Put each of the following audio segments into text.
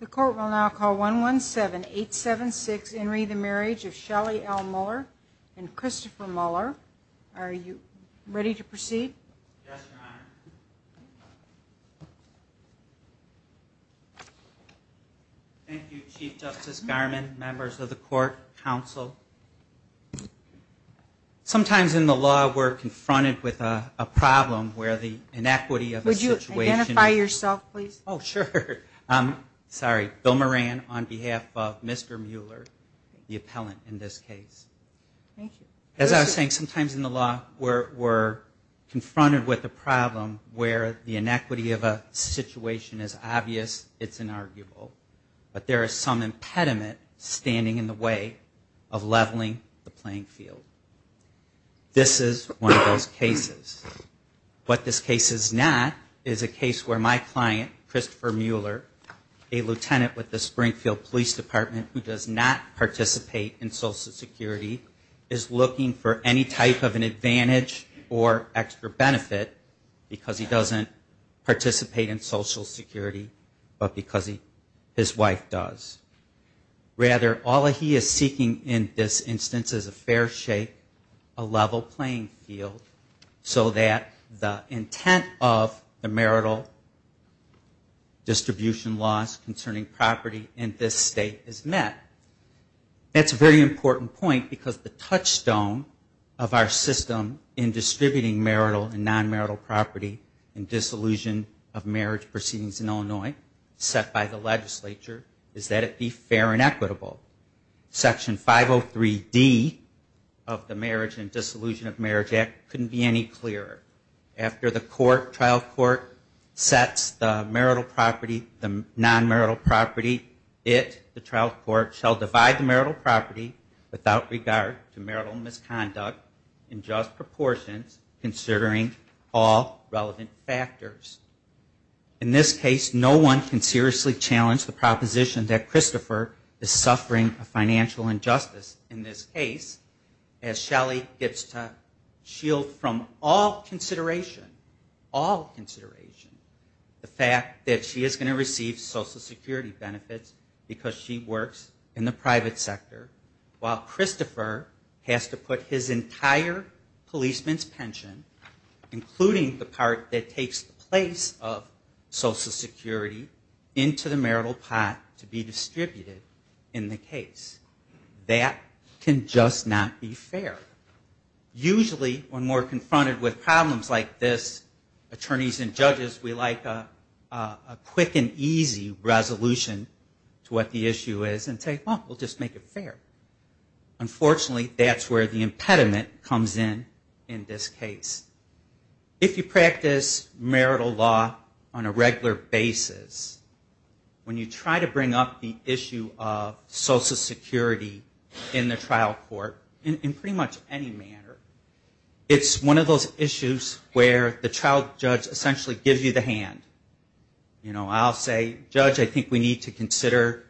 The court will now call one one seven eight seven six in re the marriage of Shelly L Muller and Christopher Muller. Are you ready to proceed? Thank You Chief Justice Garmon, members of the court, counsel. Sometimes in the law we're confronted with a problem where the inequity of the situation. Would you please? Oh sure. I'm sorry, Bill Moran on behalf of Mr. Mueller, the appellant in this case. Thank you. As I was saying sometimes in the law we're confronted with a problem where the inequity of a situation is obvious, it's inarguable, but there is some impediment standing in the way of leveling the playing field. This is one of those cases. What this case is not is a case where my client Christopher Mueller, a lieutenant with the Springfield Police Department who does not participate in Social Security, is looking for any type of an advantage or extra benefit because he doesn't participate in Social Security but because his wife does. Rather all he is seeking in this instance is a fair playing field so that the intent of the marital distribution laws concerning property in this state is met. That's a very important point because the touchstone of our system in distributing marital and non-marital property in disillusion of marriage proceedings in Illinois set by the legislature is that it be fair and equitable. Section 503D of the marriage and disillusion of marriage act couldn't be any clearer. After the trial court sets the marital property, the non-marital property, it, the trial court, shall divide the marital property without regard to marital misconduct in just proportions considering all relevant factors. In this case no one can seriously challenge the proposition that Christopher is suffering a financial injustice. In this case as Shelly gets to shield from all consideration, all consideration, the fact that she is going to receive Social Security benefits because she works in the private sector while Christopher has to put his entire policeman's pension including the part that takes place of Social Security into the marital pot to be distributed in the case. That can just not be fair. Usually when we're confronted with problems like this, attorneys and judges, we like a quick and easy resolution to what the issue is and say, well, we'll just make it fair. Unfortunately, that's where the impediment comes in in this case. If you want the issue of Social Security in the trial court in pretty much any manner, it's one of those issues where the trial judge essentially gives you the hand. You know, I'll say, judge, I think we need to consider,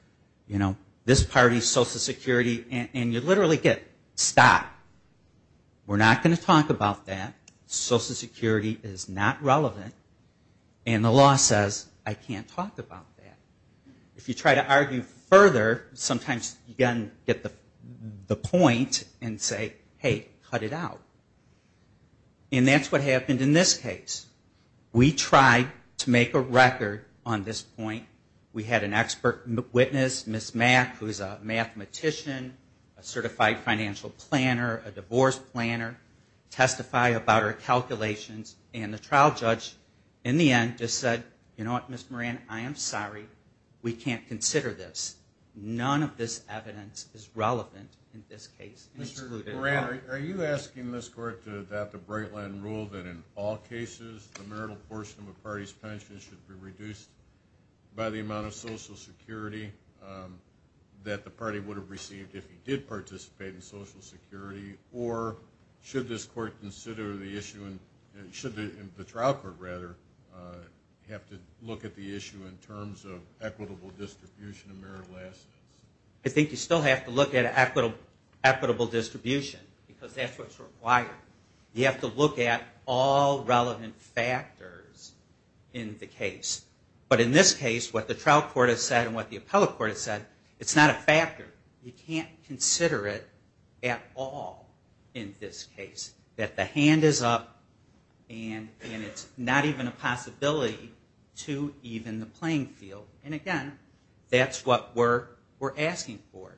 you know, this party's Social Security and you literally get, stop. We're not going to talk about that. Social Security is not relevant and the law says I can't talk about that. If you try to argue further, sometimes you get the point and say, hey, cut it out. And that's what happened in this case. We tried to make a record on this point. We had an expert witness, Ms. Mack, who is a mathematician, a certified financial planner, a divorce planner testify about her calculations and the trial judge in court said, you know what, Ms. Moran, I am sorry. We can't consider this. None of this evidence is relevant in this case. Mr. Moran, are you asking this court to adopt the Breitland rule that in all cases, the marital portion of a party's pension should be reduced by the amount of Social Security that the party would have received if he did participate in Social Security? Or should this court consider the issue, should the trial court rather, have to look at the issue in terms of equitable distribution of marital assets? I think you still have to look at equitable distribution because that's what's required. You have to look at all relevant factors in the case. But in this case, what the trial court has said and what the appellate court has said, it's not a factor. You can't consider it at all in this case, that the hand is up and it's not even a possibility to even the playing field. And again, that's what we're asking for.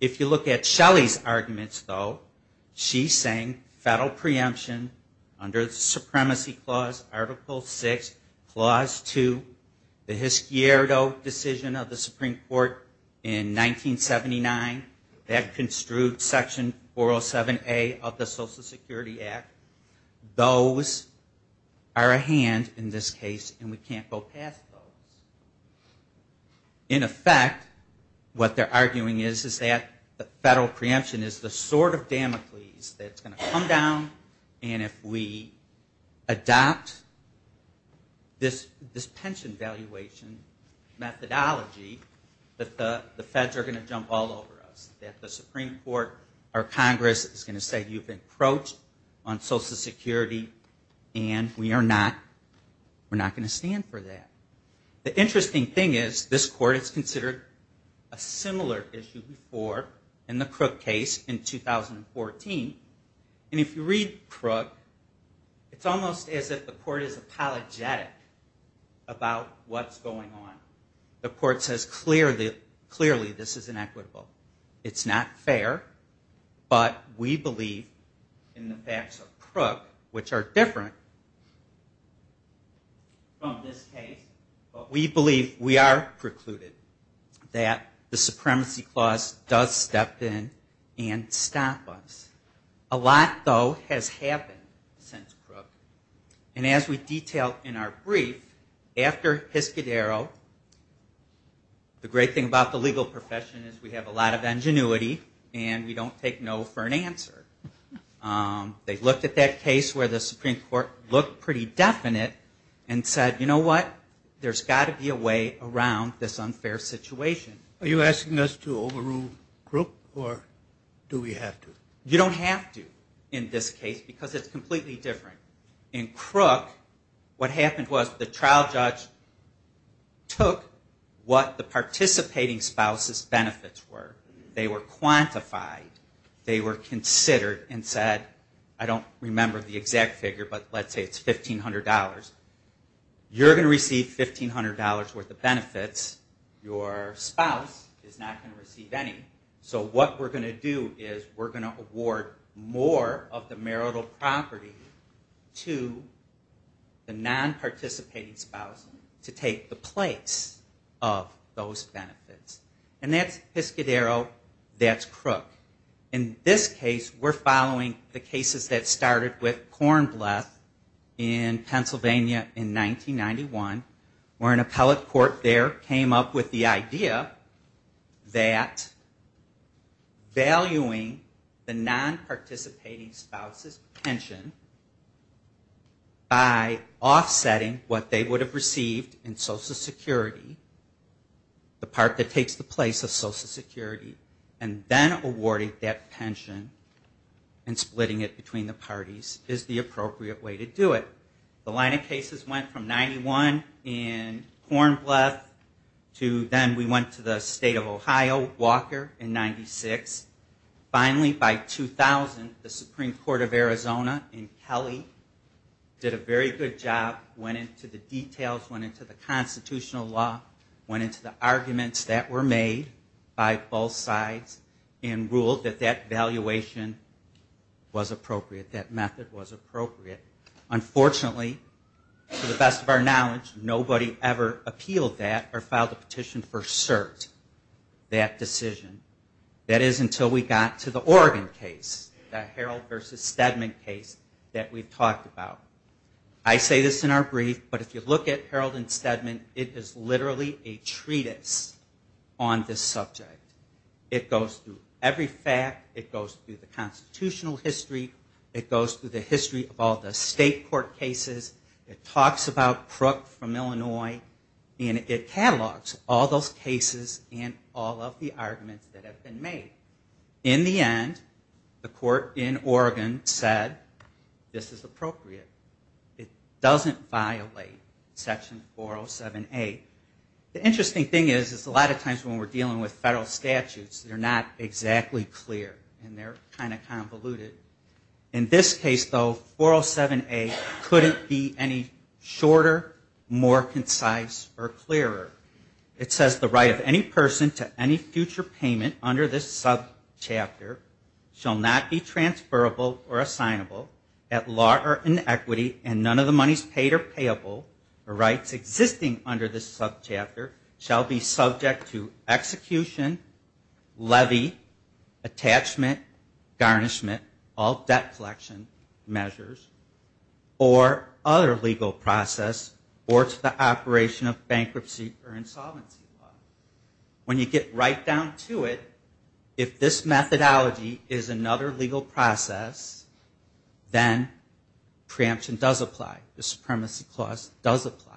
If you look at Shelley's arguments, though, she's saying federal preemption under the Supremacy Clause, Article 6, Clause 2, the Hisquierdo decision of the Supreme Court in 1979, that construed Section 407A of the Social Security Act, those are a hand in this case and we can't go past those. In effect, what they're arguing is that the federal preemption is the sword of Damocles that's going to come down and if we adopt this pension valuation methodology, that the feds are going to jump all over us, that the Supreme Court or Congress is going to say you've encroached on Social Security and we are not going to stand for that. The interesting thing is, this court has considered a similar issue before in the Crook case in 2014. And if you read Crook, it's almost as if the court is apologetic about what's going on. The court says clearly this is inequitable. It's not fair, but we believe in the facts of Crook, which are different from this case, but we believe we are precluded that the Supremacy Clause does step in and stop us. A lot, though, has happened since Crook. And as we detail in our brief, after Hiscadero, the great thing about the legal profession is we have a lot of ingenuity and we don't take no for an answer. They looked at that case where the Supreme Court looked pretty definite and said, you know what, there's got to be a way around this unfair situation. Are you asking us to overrule Crook or do we have to? You don't have to in this case because it's completely different. In Crook, what happened was the trial judge took what the participating spouse's benefits were. They were quantified. They were considered and said, I don't remember the exact figure, but let's say it's $1,500. You're going to receive $1,500 worth of benefits. Your spouse is not going to receive any. So what we're going to do is we're going to award more of the marital property to the non-participating spouse to take the place of those benefits. And that's Hiscadero, that's Crook. In this case, we're following the cases that started with Cornbleth in Pennsylvania in 1991 where an appellate court there came up with the idea that valuing the non-participating spouse's pension by offsetting what they would have received in Social Security, the part that takes the place of Social Security, and then awarding that pension and splitting it between the parties is the appropriate way to do it. The line of cases went from 91 in Cornbleth to then we went to the state of Ohio, Walker, in 96. Finally, by 2000, the Supreme Court of Arizona in Kelly did a very good job, went into the details, went into the constitutional law, went into the arguments that were made by both sides and ruled that that valuation was appropriate, that method was appropriate. Unfortunately, to the best of our knowledge, nobody ever appealed that or filed a petition for cert that decision. That is until we got to the Oregon case, the Harold versus Stedman case that we've talked about. I say this in our brief, but if you look at Harold and Stedman, it is literally a treatise on this subject. It goes through every fact, it goes through the constitutional history, it goes through the history of all the state court cases, it talks about Crook from Illinois, and it catalogs all those cases and all of the arguments that have been made. In the end, the court in Oregon said, this is appropriate. It doesn't violate section 407A. The interesting thing is, is a lot of times when we're dealing with federal statutes, they're not exactly clear and they're kind of convoluted. In this case, though, 407A couldn't be any shorter, more concise, or clearer. It says the right of any person to any future payment under this subchapter shall not be transferable or assignable at law or inequity and none of the monies paid or payable or rights existing under this constitution, levy, attachment, garnishment, all debt collection measures, or other legal process or to the operation of bankruptcy or insolvency law. When you get right down to it, if this methodology is another legal process, then preemption does apply. The Supremacy Clause does apply.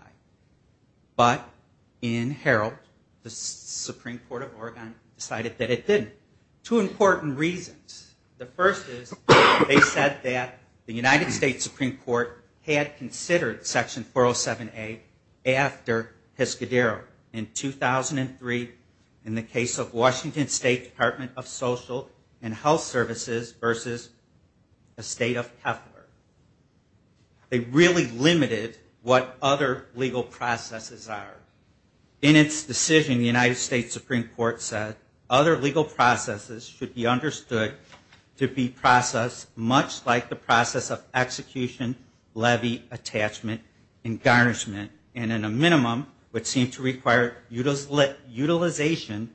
But in Herald, the Supreme Court of Oregon decided that it didn't. Two important reasons. The first is they said that the United States Supreme Court had considered section 407A after Pescadero in 2003 in the case of Washington State Department of Social and They really limited what other legal processes are. In its decision, the United States Supreme Court said other legal processes should be understood to be processed much like the process of execution, levy, attachment, and garnishment, and in a minimum, would seem to require utilization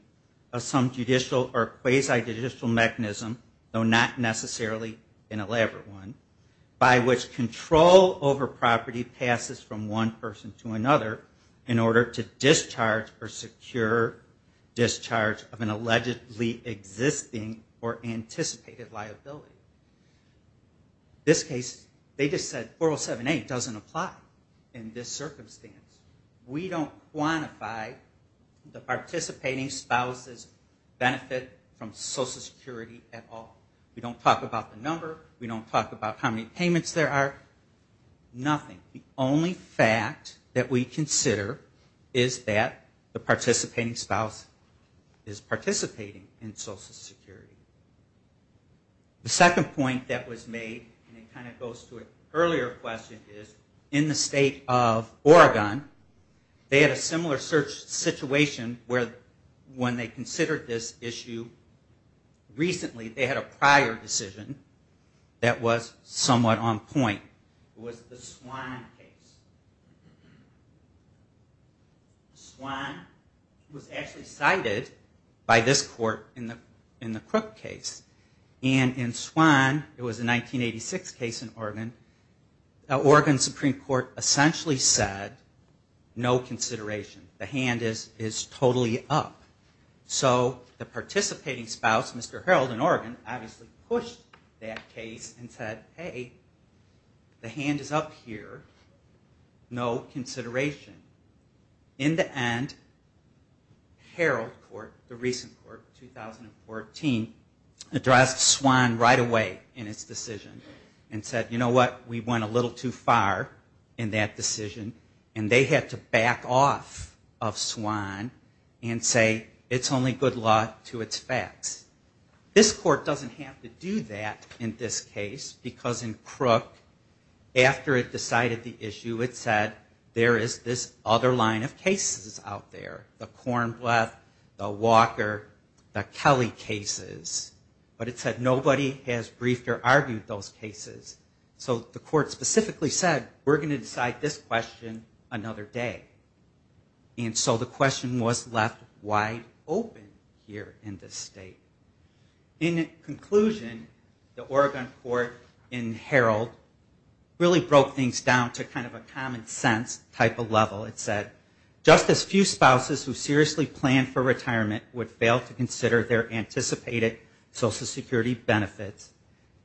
of some judicial or quasi-judicial mechanism, though not necessarily an elaborate one, by which control over property passes from one person to another in order to discharge or secure discharge of an allegedly existing or anticipated liability. In this case, they just said 407A doesn't apply in this circumstance. We don't quantify the participating spouse's benefit from how many payments there are. Nothing. The only fact that we consider is that the participating spouse is participating in Social Security. The second point that was made, and it kind of goes to an earlier question, is in the state of Oregon, they had a similar situation where when they considered this issue recently, they had a prior decision that was somewhat on point. It was the Swann case. Swann was actually cited by this court in the Crook case, and in Swann, it was a 1986 case in Oregon, the Oregon Supreme Court essentially said no consideration. The hand is totally up. So the participating spouse, Mr. Harreld in Oregon, obviously pushed that case and said, hey, the hand is up here. No consideration. In the end, Harreld Court, the recent court, 2014, addressed Swann right away in its decision and said, you know what, we went a little too far in that decision, and they had to back off of Swann and say it's only good luck to its facts. This court doesn't have to do that in this case because in Crook, after it decided the issue, it said there is this other line of cases out there. The Kornblatt, the Walker, the Kelly cases. But it said nobody has said we're going to decide this question another day. And so the question was left wide open here in this state. In conclusion, the Oregon court in Harreld really broke things down to kind of a common sense type of level. It said just as few spouses who seriously planned for retirement would fail to consider their anticipated Social Security benefits,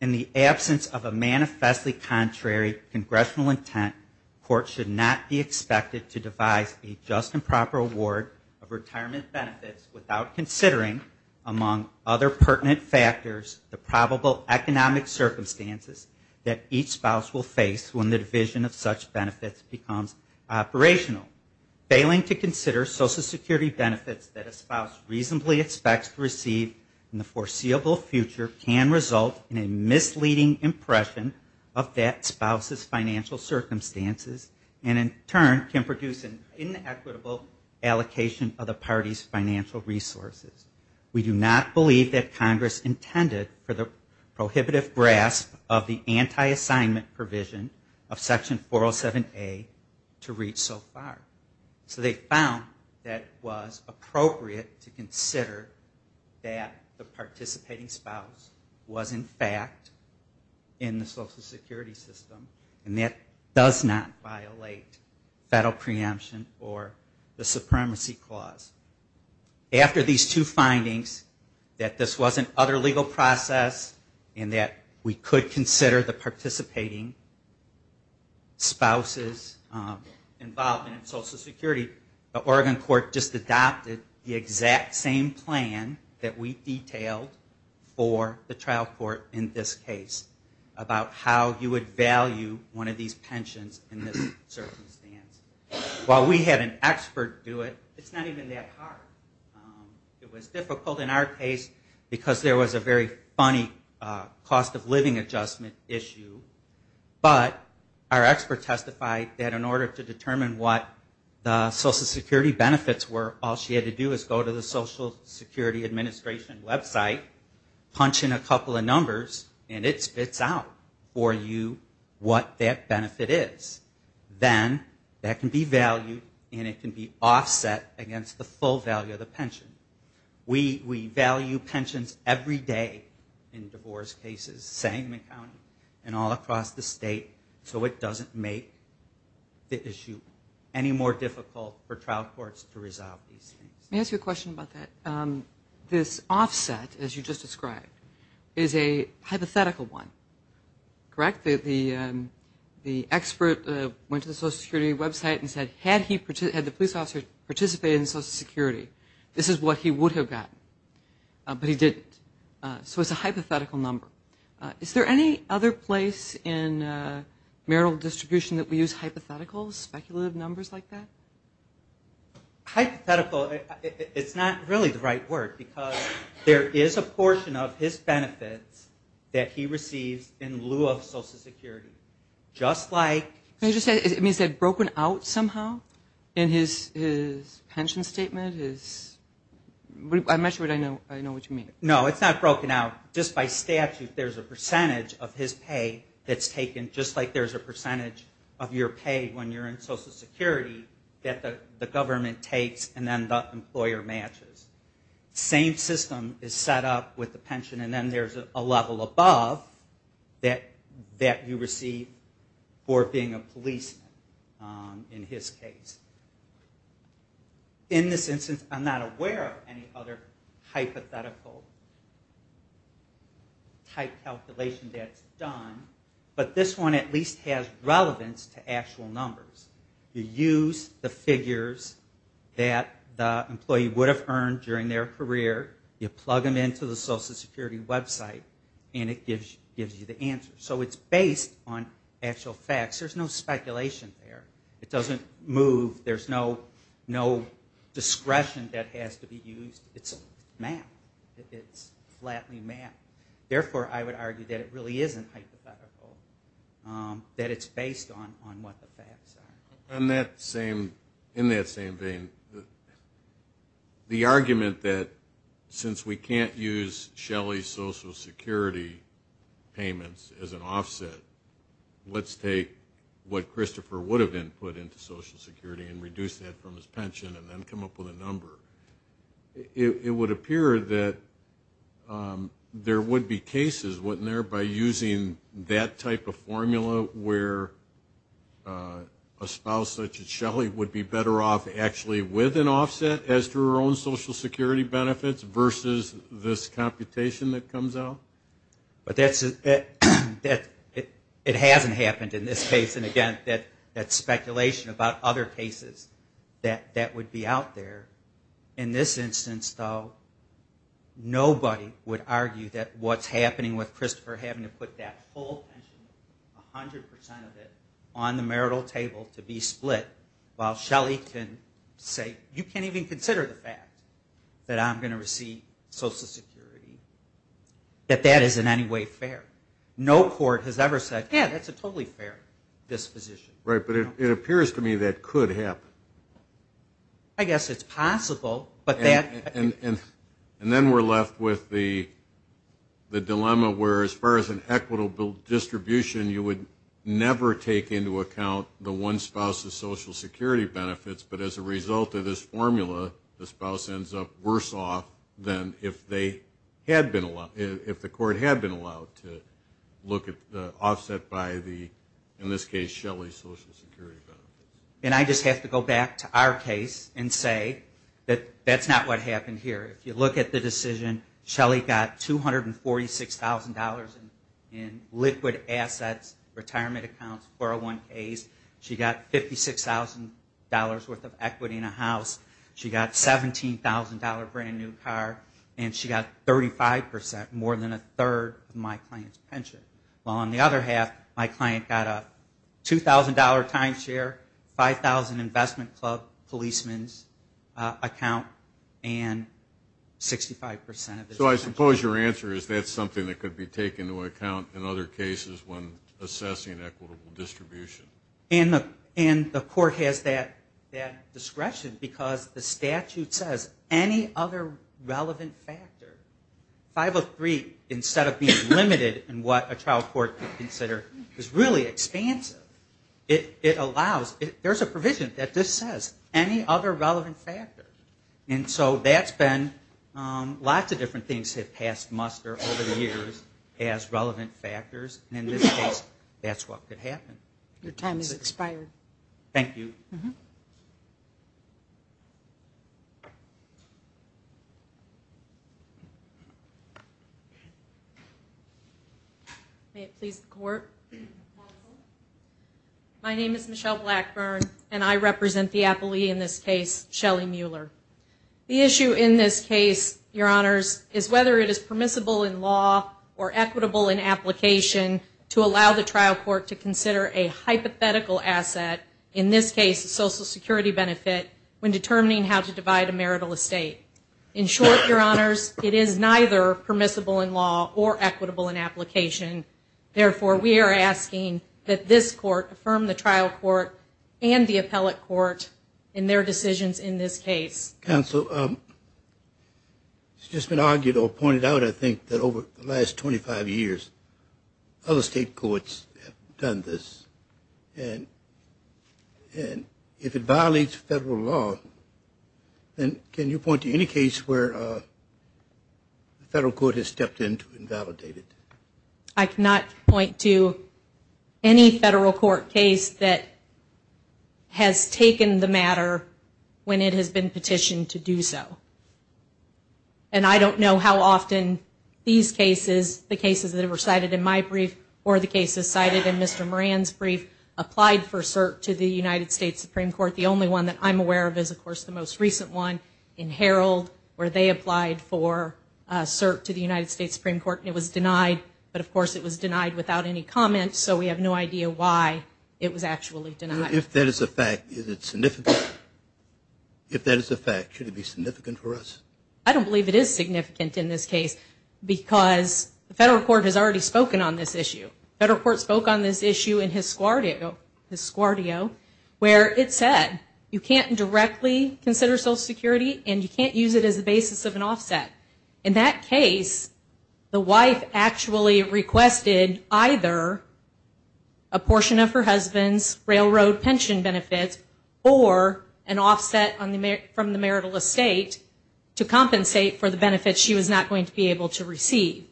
in the absence of a manifestly contrary congressional intent, courts should not be expected to devise a just and proper award of retirement benefits without considering, among other pertinent factors, the probable economic circumstances that each spouse will face when the division of such benefits becomes operational. Failing to consider Social Security benefits that a spouse reasonably expects to receive in the foreseeable future can result in a misleading impression of that spouse's financial circumstances and in turn can produce an inequitable allocation of the party's financial resources. We do not believe that Congress intended for the prohibitive grasp of the anti-assignment provision of section 407A to reach so far. So they believe that the spouse was in fact in the Social Security system and that does not violate federal preemption or the supremacy clause. After these two findings, that this was an other legal process and that we could consider the participating spouse's involvement in Social Security, the Oregon court just adopted the exact same plan that we detailed for the trial court in this case about how you would value one of these pensions in this circumstance. While we had an expert do it, it's not even that hard. It was difficult in our case because there was a very funny cost of living adjustment issue, but our expert testified that in order to get the Social Security Administration website punching a couple of numbers and it spits out for you what that benefit is, then that can be valued and it can be offset against the full value of the pension. We value pensions every day in divorce cases, same in county and all across the state, so it doesn't make the issue any more difficult for trial courts to resolve these things. This offset, as you just described, is a hypothetical one, correct? The expert went to the Social Security website and said had the police officer participated in Social Security, this is what he would have gotten, but he didn't. So it's a hypothetical number. Is there any other place in marital distribution that we use hypotheticals, speculative numbers like that? Hypothetical, it's not really the right word, because there is a portion of his benefits that he receives in lieu of Social Security, just like... It means that it's broken out somehow in his pension statement? I'm not sure I know what you mean. No, it's not broken out. Just by statute there's a percentage of his pay that's the government takes and then the employer matches. Same system is set up with the pension and then there's a level above that you receive for being a policeman in his case. In this instance I'm not aware of any other hypothetical type calculation that's done, but this one at least has relevance to actual numbers. You use the figures that the employee would have earned during their career, you plug them into the Social Security website and it gives you the answer. So it's based on actual facts. There's no speculation there. It doesn't move. There's no discretion that has to be used. It's flatly mapped. Therefore I would argue that it really isn't hypothetical, that it's based on what the facts are. In that same vein, the argument that since we can't use Shelley Social Security payments as an offset, let's take what Christopher would have been put into Social Security and reduce that from his pension and then come up with a number. It would appear that there would be cases, wouldn't there, by using that type of policy, such as Shelley, would be better off actually with an offset as to her own Social Security benefits versus this computation that comes out? It hasn't happened in this case. And again, that speculation about other cases that would be out there. In this instance, though, nobody would argue that what's happening with Christopher having to put that full pension, 100 percent of it, on the marital table to be split, while Shelley can say, you can't even consider the fact that I'm going to receive Social Security, that that is in any way fair. No court has ever said, yeah, that's a totally fair disposition. Right. But it appears to me that could happen. I guess it's possible. And then we're left with the dilemma where as far as an equitable distribution, you would never take into account the one spouse's Social Security benefits, but as a result of this formula, the spouse ends up worse off than if they had been, if the court had been allowed to look at the offset by the, in this case, Shelley's Social Security benefits. That's not what happened here. If you look at the decision, Shelley got $246,000 in liquid assets, retirement accounts, 401Ks. She got $56,000 worth of equity in a house. She got a $17,000 brand new car. And she got 35 percent, more than a third of my client's pension. While on the other half, my client got a $2,000 timeshare, $5,000 investment club, policeman's account, and 65 percent of his pension. So I suppose your answer is that's something that could be taken into account in other cases when assessing equitable distribution. And the court has that discretion because the statute says any other relevant factor, 503 instead of being limited in what a trial court could consider is really expansive. It allows, there's a provision that just says any other relevant factor. And so that's been, lots of different things have passed muster over the years as relevant factors. And in this case, that's what could happen. Your time has expired. Thank you. May it please the court? My name is Michelle Blackburn, and I represent the appellee in this case, Shelley Mueller. The issue in this case, your honors, is whether it is permissible in law or equitable in application to allow the trial court to consider a hypothetical asset, in this case, social security benefit, when determining how to divide a marital estate. In short, your honors, it is neither permissible in law or equitable in application. Therefore, we are asking that this court affirm the trial court and the appellate court in their decisions in this case. Counsel, it's just been argued or pointed out, I think, that over the last 25 years, other state courts have done this. If it violates federal law, then can you point to any case where the federal court has stepped in to invalidate it? I cannot point to any federal court case that has taken the matter when it has been petitioned to do so. And I don't know how often these cases, the cases that have been cited in my brief or the cases cited in Mr. Moran's brief, applied for cert to the United States Supreme Court. The only one that I'm aware of is, of course, the most recent one in Herald, where they applied for cert to the United States Supreme Court, and it was denied. But, of course, it was denied without any comment, so we have no idea why it was actually denied. If that is a fact, is it significant? If that is a fact, should it be significant for us? I don't believe it is significant in this case, because the federal court has already spoken on this issue. The federal court spoke on this issue in his squardio, where it said you can't directly consider Social Security and you can't use it as a basis of an offset. In that case, the wife actually requested either a portion of her husband's railroad pension benefits or an offset from the marital estate to compensate for the benefits she was not going to be able to receive.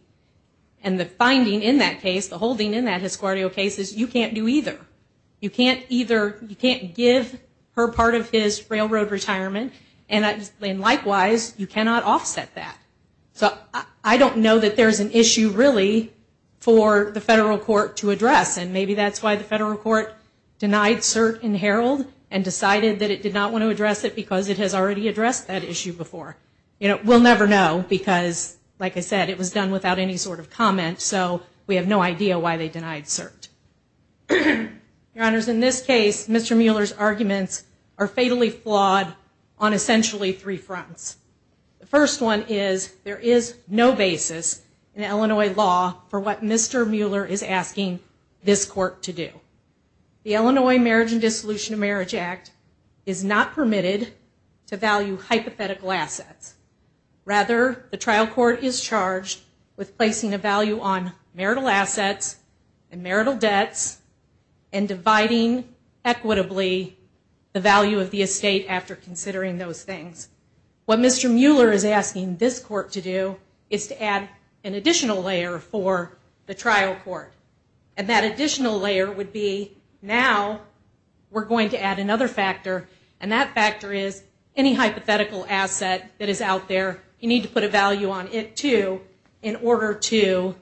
And the finding in that case, the holding in that his squardio case, is you can't do either. You can't give her part of his railroad retirement, and likewise, you cannot offset that. So I don't know that there's an issue really for the federal court to address, and maybe that's why the federal court denied cert in Herald and decided that it did not want to address it, because it has already addressed that issue before. We'll never know, because like I said, it was done without any sort of comment, so we have no idea why they denied cert. Your Honors, in this case, Mr. Mueller's arguments are fatally flawed on essentially three fronts. The first one is, there is no basis in Illinois law for what Mr. Mueller is asking this court to do. The Illinois Marriage and Dissolution of Marriage Act is not permitted to value hypothetical assets. Rather, the trial court is charged with placing a value on marital assets and marital debts and dividing equitably the value of the estate after considering those things. What Mr. Mueller is asking this court to do is to add an additional layer for the trial court, and that additional layer would be, now we're going to add another factor, and that factor is, any hypothetical asset that is out there, you need to put a value on it, too, in order to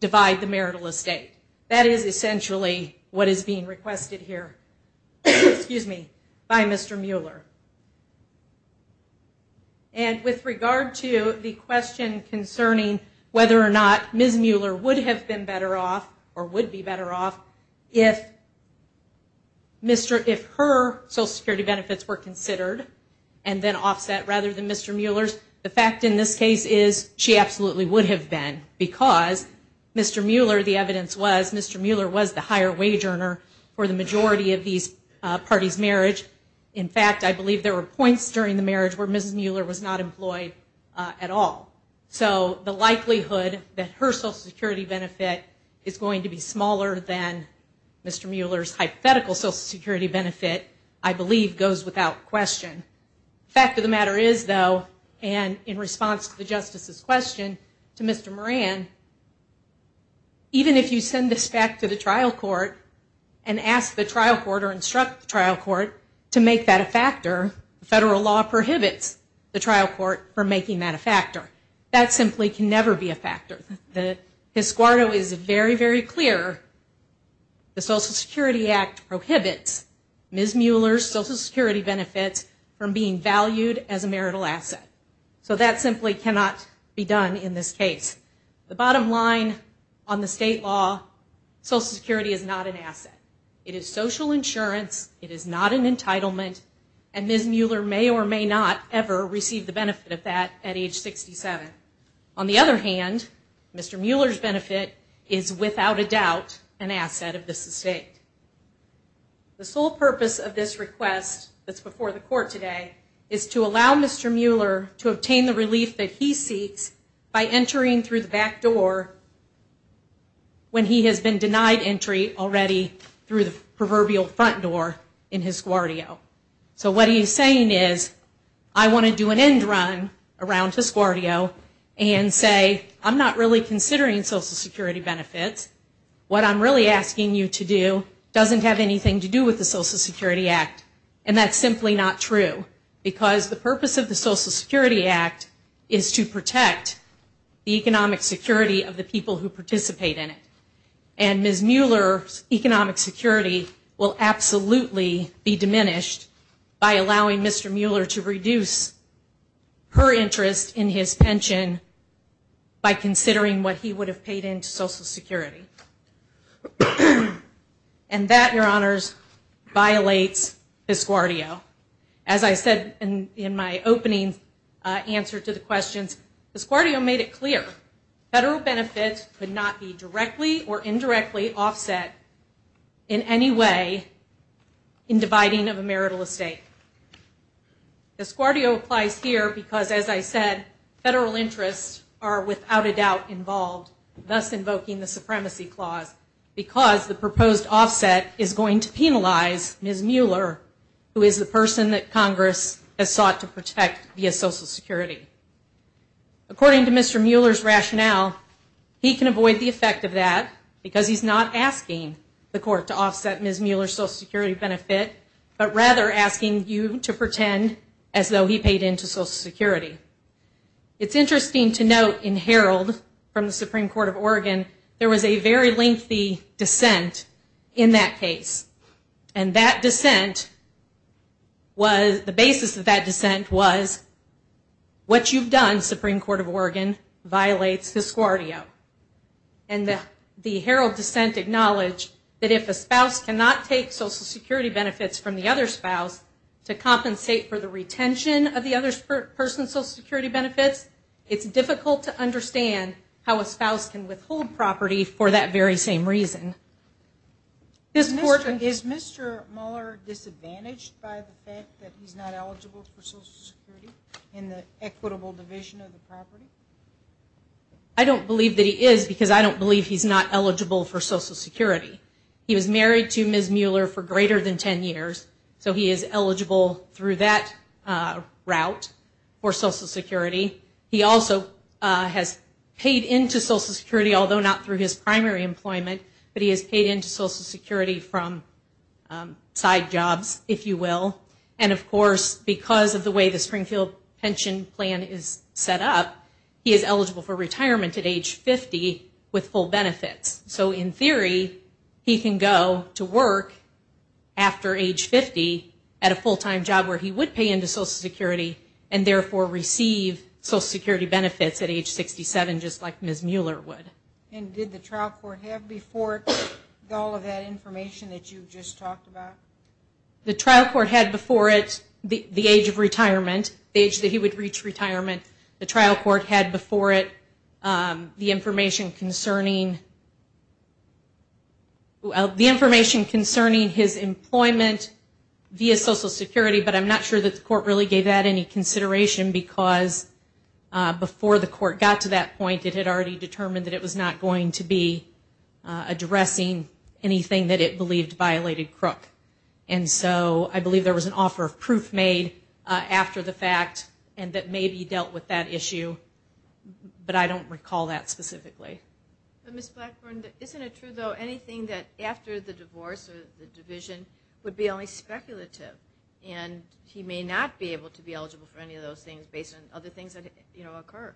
divide the marital estate. That is essentially what is being requested here by Mr. Mueller. And with regard to the question concerning whether or not Ms. Mueller would have been better off, or would be better off, if her Social Security benefits were considered and then offset rather than Mr. Mueller's, the fact in this case is, she absolutely would have been, because Mr. Mueller, the evidence was, Mr. Mueller was the higher wage earner for the majority of these parties' marriage. In fact, I believe there were points during the marriage where Ms. Mueller was not employed at all. So the likelihood that her Social Security benefit is going to be smaller than Mr. Mueller's hypothetical Social Security benefit, I believe, goes without question. The fact of the matter is, though, and in response to the Justice's question to Mr. Moran, even if you send this back to the trial court and ask the trial court or instruct the trial court to make that a factor, the federal law prohibits the trial court from making that a factor. That simply can never be a factor. The escort is very, very clear. The Social Security Act prohibits Ms. Mueller's Social Security benefits from being valued as a marital asset. So that simply cannot be done in this case. The bottom line on the state law, Social Security is not an asset. It is social insurance. It is not an entitlement. And Ms. Mueller may or may not ever receive the benefit of that at age 67. On the other hand, Mr. Mueller's benefit is without a doubt an asset of this estate. The sole purpose of this request that's before the court today is to allow Mr. Mueller to obtain the relief that he seeks by entering through the back door when he has been denied entry already through the proverbial front door in his guardio. So what he's saying is, I want to do an end run around his guardio and say, I'm not really considering Social Security benefits. What I'm really asking you to do doesn't have anything to do with the Social Security Act. And that's simply not true. Because the purpose of the Social Security Act is to protect the economic security of the state. And Ms. Mueller's economic security will absolutely be diminished by allowing Mr. Mueller to reduce her interest in his pension by considering what he would have paid into Social Security. And that, Your Honors, violates his guardio. As I said in my opening answer to the questions, his guardio made it clear. Federal benefits could not be directly or indirectly offset in any way in dividing of a marital estate. His guardio applies here because, as I said, federal interests are without a doubt involved, thus invoking the Supremacy Clause, because the proposed offset is going to penalize Ms. Mueller, who is the person that Congress has sought to protect via Social Security. According to Mr. Mueller's rationale, he can avoid the effect of that because he's not asking the court to offset Ms. Mueller's Social Security benefit, but rather asking you to pretend as though he paid into Social Security. It's interesting to note in Herald from the Supreme Court of Oregon, there was a very lengthy dissent in that case. And that dissent was, the basis of that dissent was, what you've done, Supreme Court of Oregon, violates his guardio. And the Herald dissent acknowledged that if a spouse cannot take Social Security benefits from the other spouse to compensate for the retention of the other person's Social Security benefits, it's difficult to understand how a spouse can withhold property for that very same reason. Is Mr. Mueller disadvantaged by the fact that he's not eligible for Social Security in the equitable division of the property? I don't believe that he is, because I don't believe he's not eligible for Social Security. He was married to Ms. Mueller for greater than 10 years, so he is eligible through that route for Social Security. He also has paid into Social Security, although not through his primary employment, but he has paid into Social Security from side jobs, if you will. And of course, because of the way the Springfield pension plan is set up, he is eligible for retirement at age 50 with full benefits. So in theory, he can go to work after age 50 at a full-time job where he would pay into Social Security and therefore receive Social Security benefits at age 67, just like Ms. Mueller would. And did the trial court have before it all of that information that you just talked about? The trial court had before it the age of retirement, the age that he would reach retirement. The trial court had before it the information concerning his employment via Social Security, but I'm not sure that the court really gave that any consideration because before the court got to that point, it had already determined that it was not going to be addressing anything that it believed violated Crook. And so I believe there was an offer of proof made after the fact and that maybe dealt with that issue, but I don't recall that specifically. Ms. Blackburn, isn't it true, though, anything that after the divorce or the divorce, he's not eligible for any of those things based on other things that occur?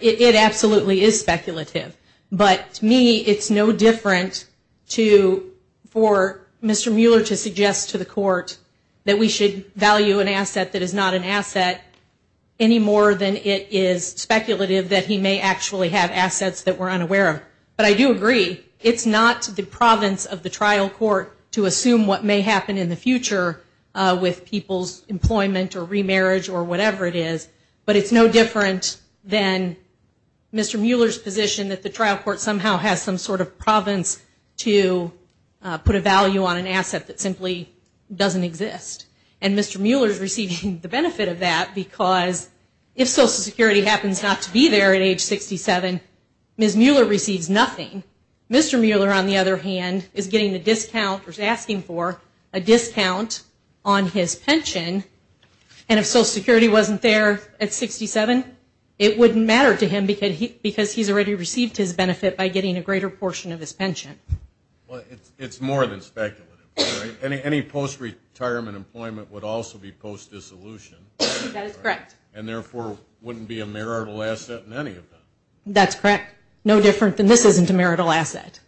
It absolutely is speculative, but to me it's no different for Mr. Mueller to suggest to the court that we should value an asset that is not an asset any more than it is speculative that he may actually have assets that we're unaware of. But I do agree, it's not the province of the trial court to assume what may happen in the future with people's employment or remarriage or whatever it is, but it's no different than Mr. Mueller's position that the trial court somehow has some sort of province to put a value on an asset that simply doesn't exist. And Mr. Mueller is receiving the benefit of that because if Social Security happens not to be there at age 67, Ms. Mueller receives nothing. Mr. Mueller, on the other hand, is getting a discount or is asking for a discount on his pension, and if Social Security wasn't there at 67, it wouldn't matter to him because he's already received his benefit by getting a greater portion of his pension. Well, it's more than speculative. Any post-retirement employment would also be post-dissolution. That is correct. And therefore wouldn't be a marital asset in any of them. That's correct. No different than this isn't a marital asset.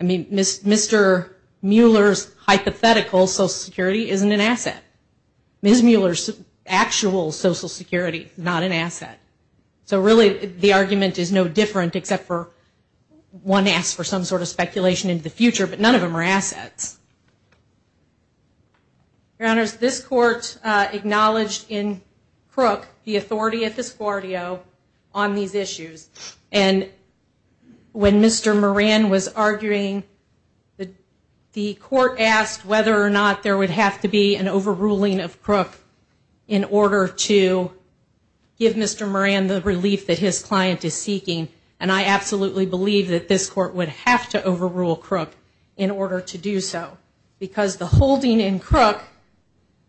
I mean, Mr. Mueller's hypothetical Social Security isn't an asset. Ms. Mueller's actual Social Security is not an asset. So really the argument is no different except for one asks for some sort of speculation into the future, but none of them are assets. Your Honors, this court acknowledged in Crook the authority at this Guardio on these issues, and when Mr. Moran was arguing, the court asked whether or not there would have to be an overruling of Crook in order to give Mr. Moran the relief that his client is seeking, and I absolutely believe that this court would have to overrule Crook in order to do so because the holding in Crook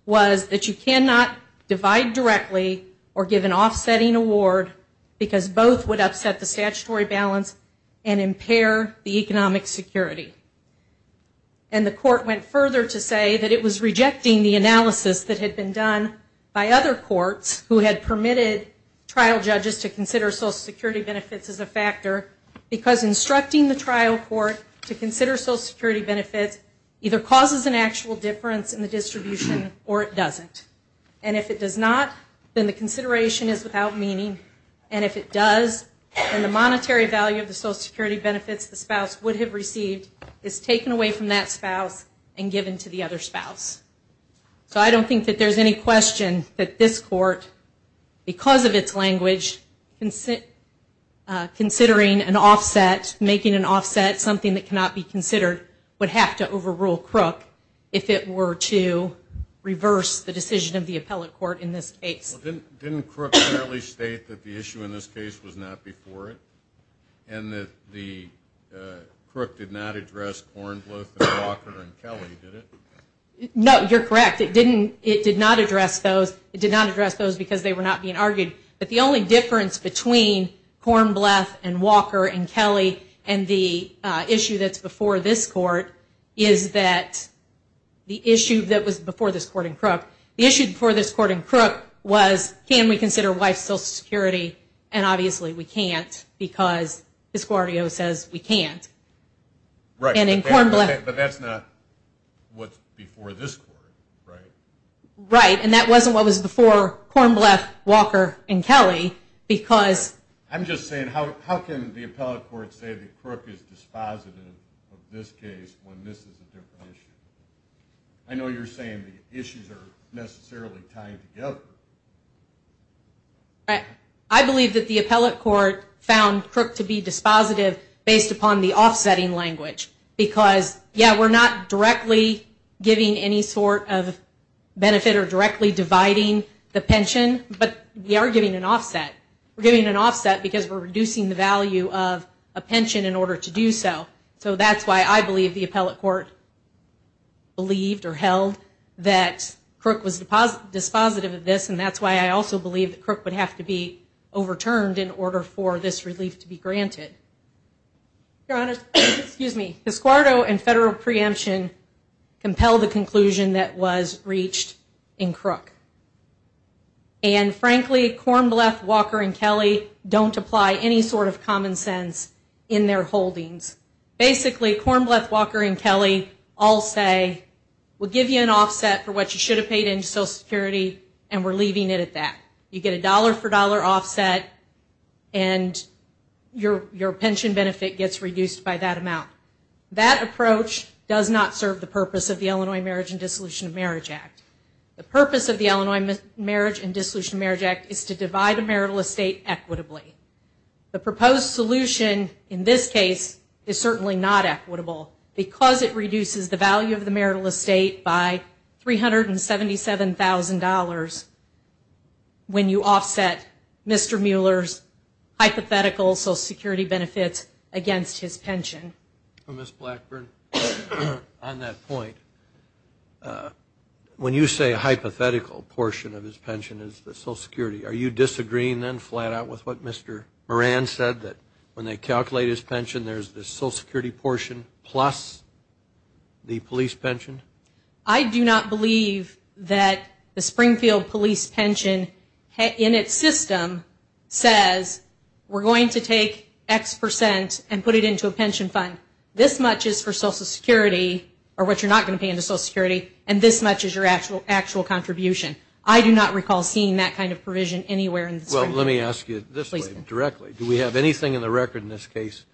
was that you cannot divide directly or give an offsetting award because both would upset the statutory balance and impair the economic security. And the court went further to say that it was rejecting the analysis that had been done by other courts who had permitted trial judges to consider Social Security benefits as a factor because instructing the trial court to consider the actual difference in the distribution or it doesn't, and if it does not, then the consideration is without meaning, and if it does, then the monetary value of the Social Security benefits the spouse would have received is taken away from that spouse and given to the other spouse. So I don't think that there's any question that this court, because of its language, considering an offset, making an offset something that cannot be done if it were to reverse the decision of the appellate court in this case. Didn't Crook clearly state that the issue in this case was not before it and that the Crook did not address Kornbluth and Walker and Kelly, did it? No, you're correct. It did not address those. It did not address those because they were not being argued. But the only difference between Kornbluth and Walker and Kelly, the issue that was before this court in Crook, the issue before this court in Crook was can we consider wife Social Security, and obviously we can't because Asquario says we can't. Right, but that's not what's before this court, right? Right, and that wasn't what was before Kornbluth, Walker, and Kelly because I'm just saying how can the appellate court say that Crook is dispositive of this case when this is a different issue? I know you're saying the issues are necessarily tied together. Right, I believe that the appellate court found Crook to be dispositive based upon the offsetting language because, yeah, we're not directly giving any sort of benefit or directly dividing the pension, but we are giving an offset. We're giving an offset because we're reducing the value of a pension in order to do so. So that's why I believe the appellate court believed or held that Crook was dispositive of this and that's why I also believe that Crook would have to be overturned in order for this relief to be granted. Your Honor, Asquario and federal preemption compel the conclusion that was reached in Crook. And frankly, Kornbluth, Walker, and Kelly don't apply any sort of common sense in their holdings. Basically, Kornbluth, Walker, and Kelly all say we'll give you an offset for what you should have paid into Social Security and we're leaving it at that. You get a dollar for dollar offset and your pension benefit gets reduced by that amount. That approach does not serve the purpose of the Illinois Marriage and Dissolution of Marriage Act. The purpose of the Illinois Marriage and Dissolution of Marriage Act is to divide marital estate equitably. The proposed solution in this case is certainly not equitable because it reduces the value of the marital estate by $377,000 when you offset Mr. Mueller's hypothetical Social Security benefits against his pension. Ms. Blackburn, on that point, when you say a hypothetical portion of his pension, are you agreeing then flat out with what Mr. Moran said that when they calculate his pension, there's the Social Security portion plus the police pension? I do not believe that the Springfield police pension in its system says we're going to take X percent and put it into a pension fund. This much is for Social Security or what you're not going to pay into Social Security and this much is your actual contribution. I do not recall seeing that kind of provision anywhere. Well, let me ask you this way directly. Do we have anything in the record in this case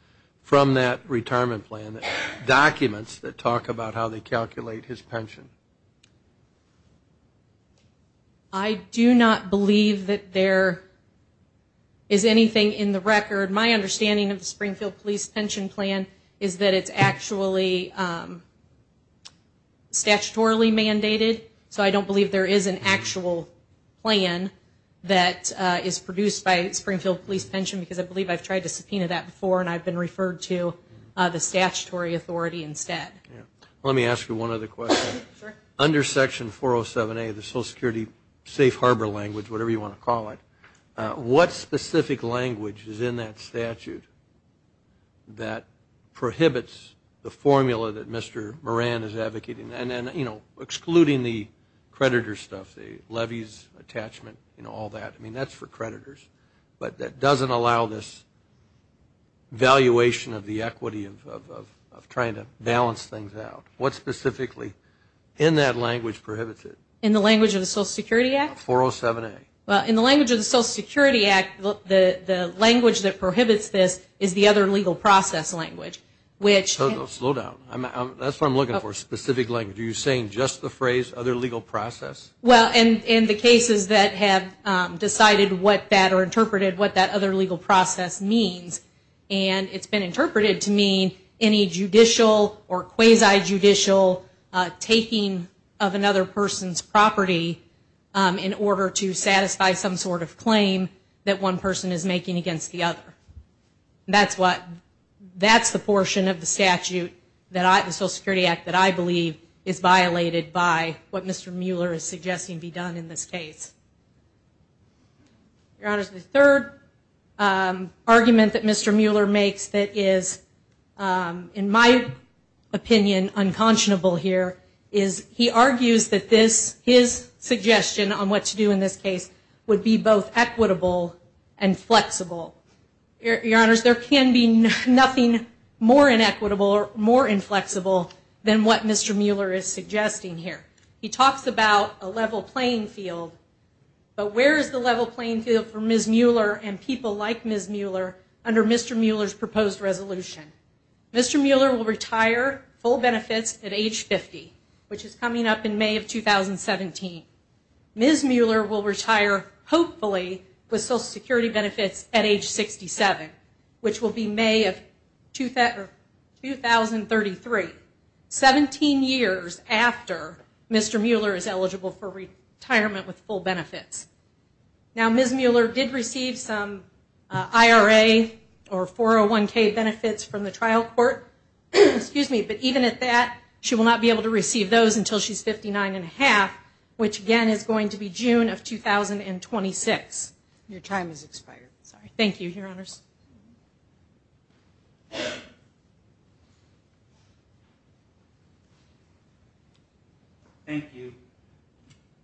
from that retirement plan, documents that talk about how they calculate his pension? I do not believe that there is anything in the record. My understanding of the Springfield police pension plan is that it's actually statutorily mandated, so I believe I've tried to subpoena that before and I've been referred to the statutory authority instead. Let me ask you one other question. Under Section 407A of the Social Security safe harbor language, whatever you want to call it, what specific language is in that statute that prohibits the formula that Mr. Moran is advocating and excluding the creditor stuff, the levies, attachment, all that. I mean, that's for creditors, but that doesn't allow this valuation of the equity of trying to balance things out. What specifically in that language prohibits it? In the language of the Social Security Act? 407A. Well, in the language of the Social Security Act, the language that prohibits this is the other legal process language. Slow down. That's what I'm looking for, specific language. Are you saying just the phrase other legal process? Well, in the cases that have decided what that or interpreted what that other legal process means, and it's been interpreted to mean any judicial or quasi judicial taking of another person's property in order to satisfy some sort of portion of the statute, the Social Security Act that I believe is violated by what Mr. Mueller is suggesting be done in this case. Your Honors, the third argument that Mr. Mueller makes that is, in my opinion, unconscionable here is he argues that his suggestion on what to do in this case would be both equitable and flexible. Your Honors, there can be nothing more inequitable or more inflexible than what Mr. Mueller is suggesting here. He talks about a level playing field, but where is the level playing field for Ms. Mueller and people like Ms. Mueller under Mr. Mueller's proposed resolution? Mr. Mueller will retire full benefits at age 50, which is coming up in May of 2017. Ms. Mueller will retire, hopefully, with Social Security benefits at age 67, which will be May of 2033, 17 years after Mr. Mueller is eligible for retirement with full benefits. Now, Ms. Mueller did receive some IRA or 401k benefits from the trial court, but even at that she will not be able to receive those until she's 59 and a half, which again is going to be June of 2026. Your time has expired. Thank you, Your Honors. Thank you.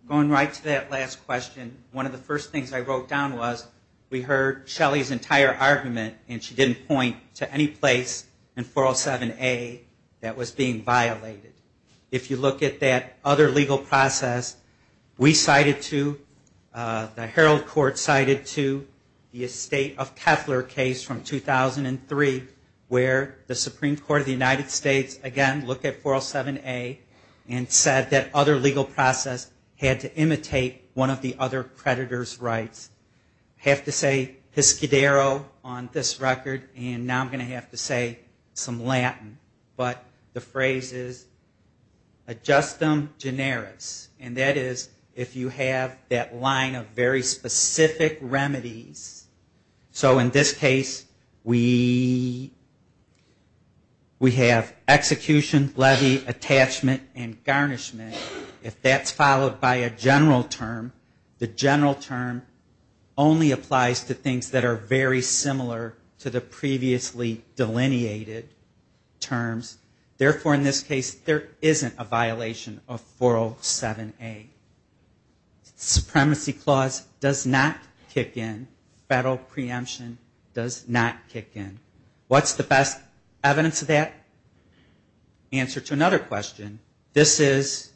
Going right to that last question, one of the first things I wrote down was we heard Shelly's entire argument and she didn't point to any place in that other legal process. We cited to, the Herald Court cited to the estate of Koeffler case from 2003 where the Supreme Court of the United States again looked at 407A and said that other legal process had to imitate one of the other creditor's rights. I have to say Hiscadero on this record and now I'm going to have to say some Latin, but the phrase is ad justum generis. And that is if you have that line of very specific remedies. So in this case we have execution, levy, attachment and garnishment. If that's followed by a general term, the general term only applies to things that are very similar to the previously delineated terms. Therefore in this case there isn't a violation of 407A. Supremacy clause does not kick in. Federal preemption does not kick in. What's the best evidence of that? Answer to another question. This is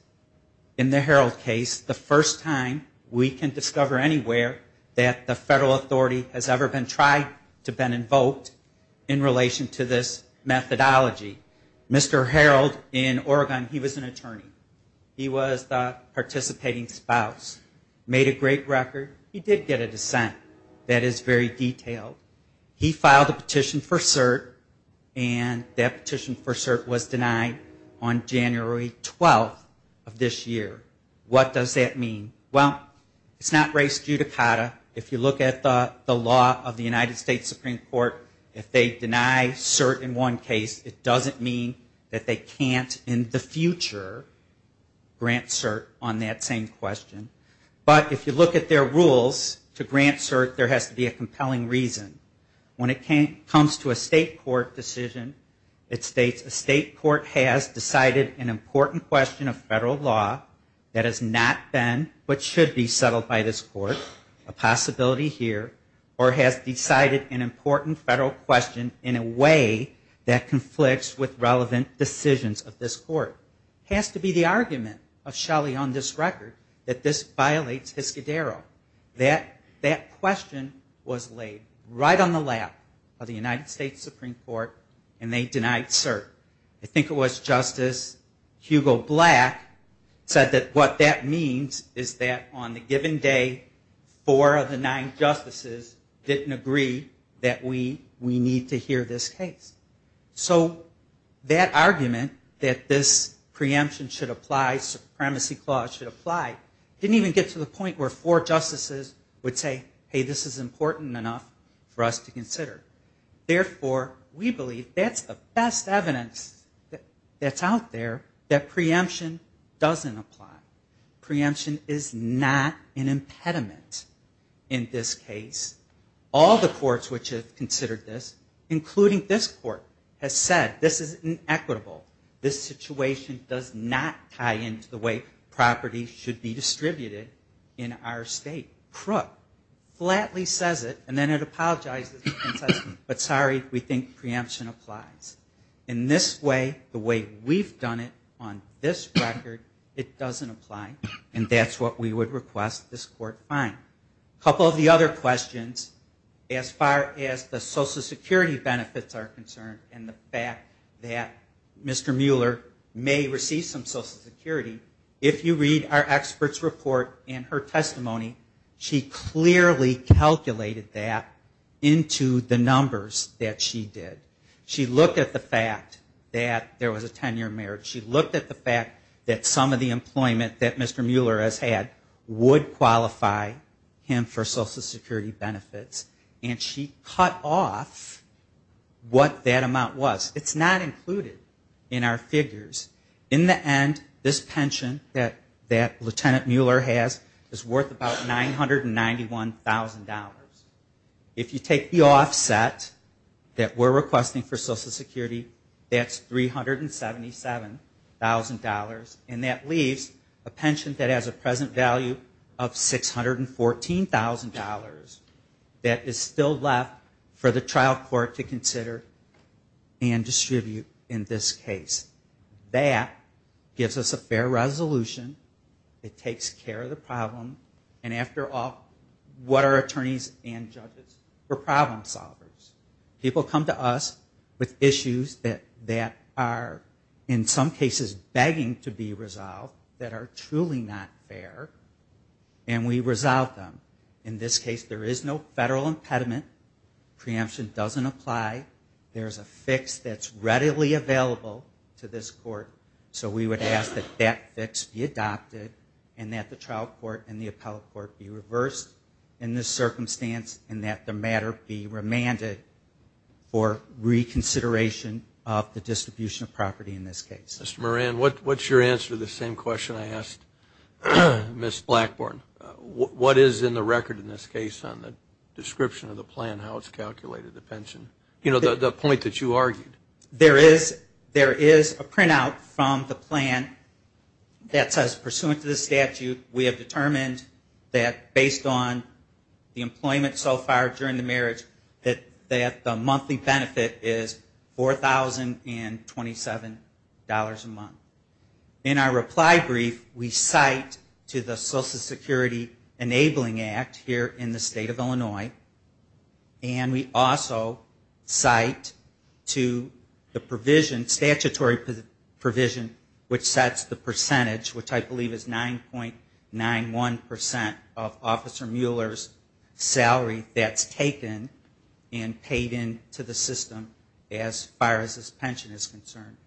in the Herald case the first time we can discover anywhere that the federal authority has ever been tried to have been invoked in relation to this methodology. Mr. Herald in Oregon, he was an attorney. He was the participating spouse. Made a great record. He did get a dissent that is very detailed. He filed a petition for cert and that petition for cert was denied on January 12th of this year. What does that mean? Well, it's not race violation. The state Supreme Court, if they deny cert in one case, it doesn't mean that they can't in the future grant cert on that same question. But if you look at their rules to grant cert, there has to be a compelling reason. When it comes to a state court decision, it states a state court has decided an important question of federal law that has not been but should be settled by this court, a possibility here, or has decided an important federal question in a way that conflicts with relevant decisions of this court. It has to be the argument of Shelley on this record that this violates his cadero. That question was laid right on the lap of the United States Supreme Court and they denied cert. I think it was Justice Hugo Black said that what that means is that on the given day, four of the nine justices didn't agree that we need to hear this case. So that argument that this preemption should apply, supremacy clause should apply, didn't even get to the point where four justices would say, hey, this is important enough for us to consider. Therefore, we believe that's the best evidence that's out there that preemption doesn't apply. Preemption is not an impediment in this case. All the courts which have considered this, including this court, has said this is inequitable. This situation does not tie into the way property should be distributed in our state. Crook flatly says it and then it apologizes and says, but sorry, we think preemption applies. In this way, the way we've done it on this record, it doesn't apply and that's what we would request this court find. A couple of the other questions as far as the Social Security benefits are concerned and the fact that Mr. Mueller may receive some Social Security, if you read our experts report and her testimony, she clearly calculated that into the numbers that she did. She looked at the fact that there was a 10-year marriage. She looked at the fact that some of the employment that Mr. Mueller has had would qualify him for Social Security benefits and she cut off what that amount was. It's not included in our figures. In the end, this pension that Lieutenant Mueller has is worth about $991,000. If you take the offset that we're requesting for Social Security, that's $377,000 and that leaves a pension that has a present value of $614,000 that is still left for the trial court to consider and distribute in this case. That gives us a fair resolution. It takes care of the problem and after all, what are attorneys and judges? We're problem solvers. People come to us with issues that are in some cases begging to be resolved that are truly not fair and we resolve them. In this case, there is no federal impediment. Preemption doesn't apply. There's a fix that's readily available to this court so we would ask that that fix be adopted and that the trial court and the appellate court be reversed in this circumstance and that the matter be remanded for reconsideration of the distribution of property in this case. Mr. Moran, what's your answer to the same question I asked Ms. Blackburn? What is in the record in this case on the description of the plan, how it's calculated, the pension? You know, the point that you argued. There is a printout from the plan that says pursuant to the statute, we have determined that based on the employment so far during the marriage, that the monthly benefit is $4,027 a month. In our reply brief, we cite to the Social Security Enabling Act here in the state of Illinois and we also cite to the provision, statutory provision, which sets the percentage, which I believe is 9.91 percent of Officer Mueller's salary that's taken and paid into the system as far as this pension is concerned.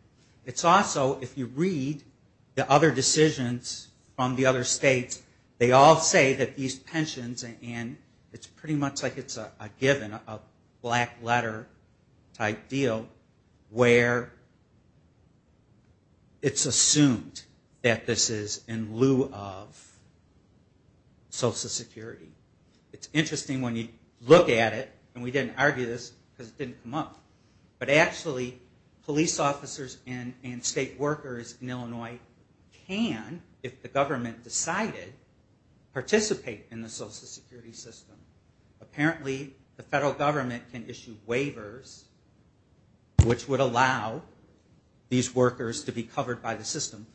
It's also, if you read the other decisions from the other states, they all say that these pensions, and it's pretty much like it's a given, a black letter type deal, where it's assumed that this is in lieu of Social Security. It's interesting when you look at it, and we didn't argue this because it didn't come up, but actually police officers and state workers in Illinois participate in the Social Security system. Apparently the federal government can issue waivers which would allow these workers to be covered by the system.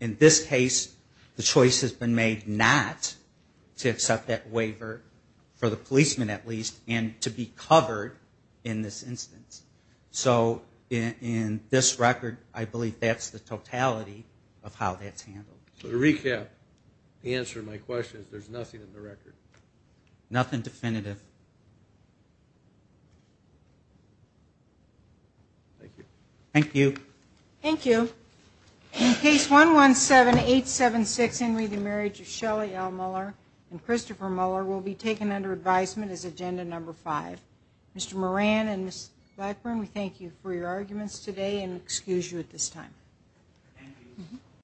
In this case, the choice has been made not to accept that waiver, for the policeman at least, and to be covered in this instance. So in this record, I believe that's the totality of how that's handled. So to recap, the answer to my question is there's nothing in the record. Nothing definitive. Thank you. Thank you. In case 117876, Henry, the marriage of Shelley L. Mueller and Christopher Mueller will be taken under advisement as agenda number five. Mr. Moran and Ms. Blackburn, we thank you for your arguments today and excuse you at this time.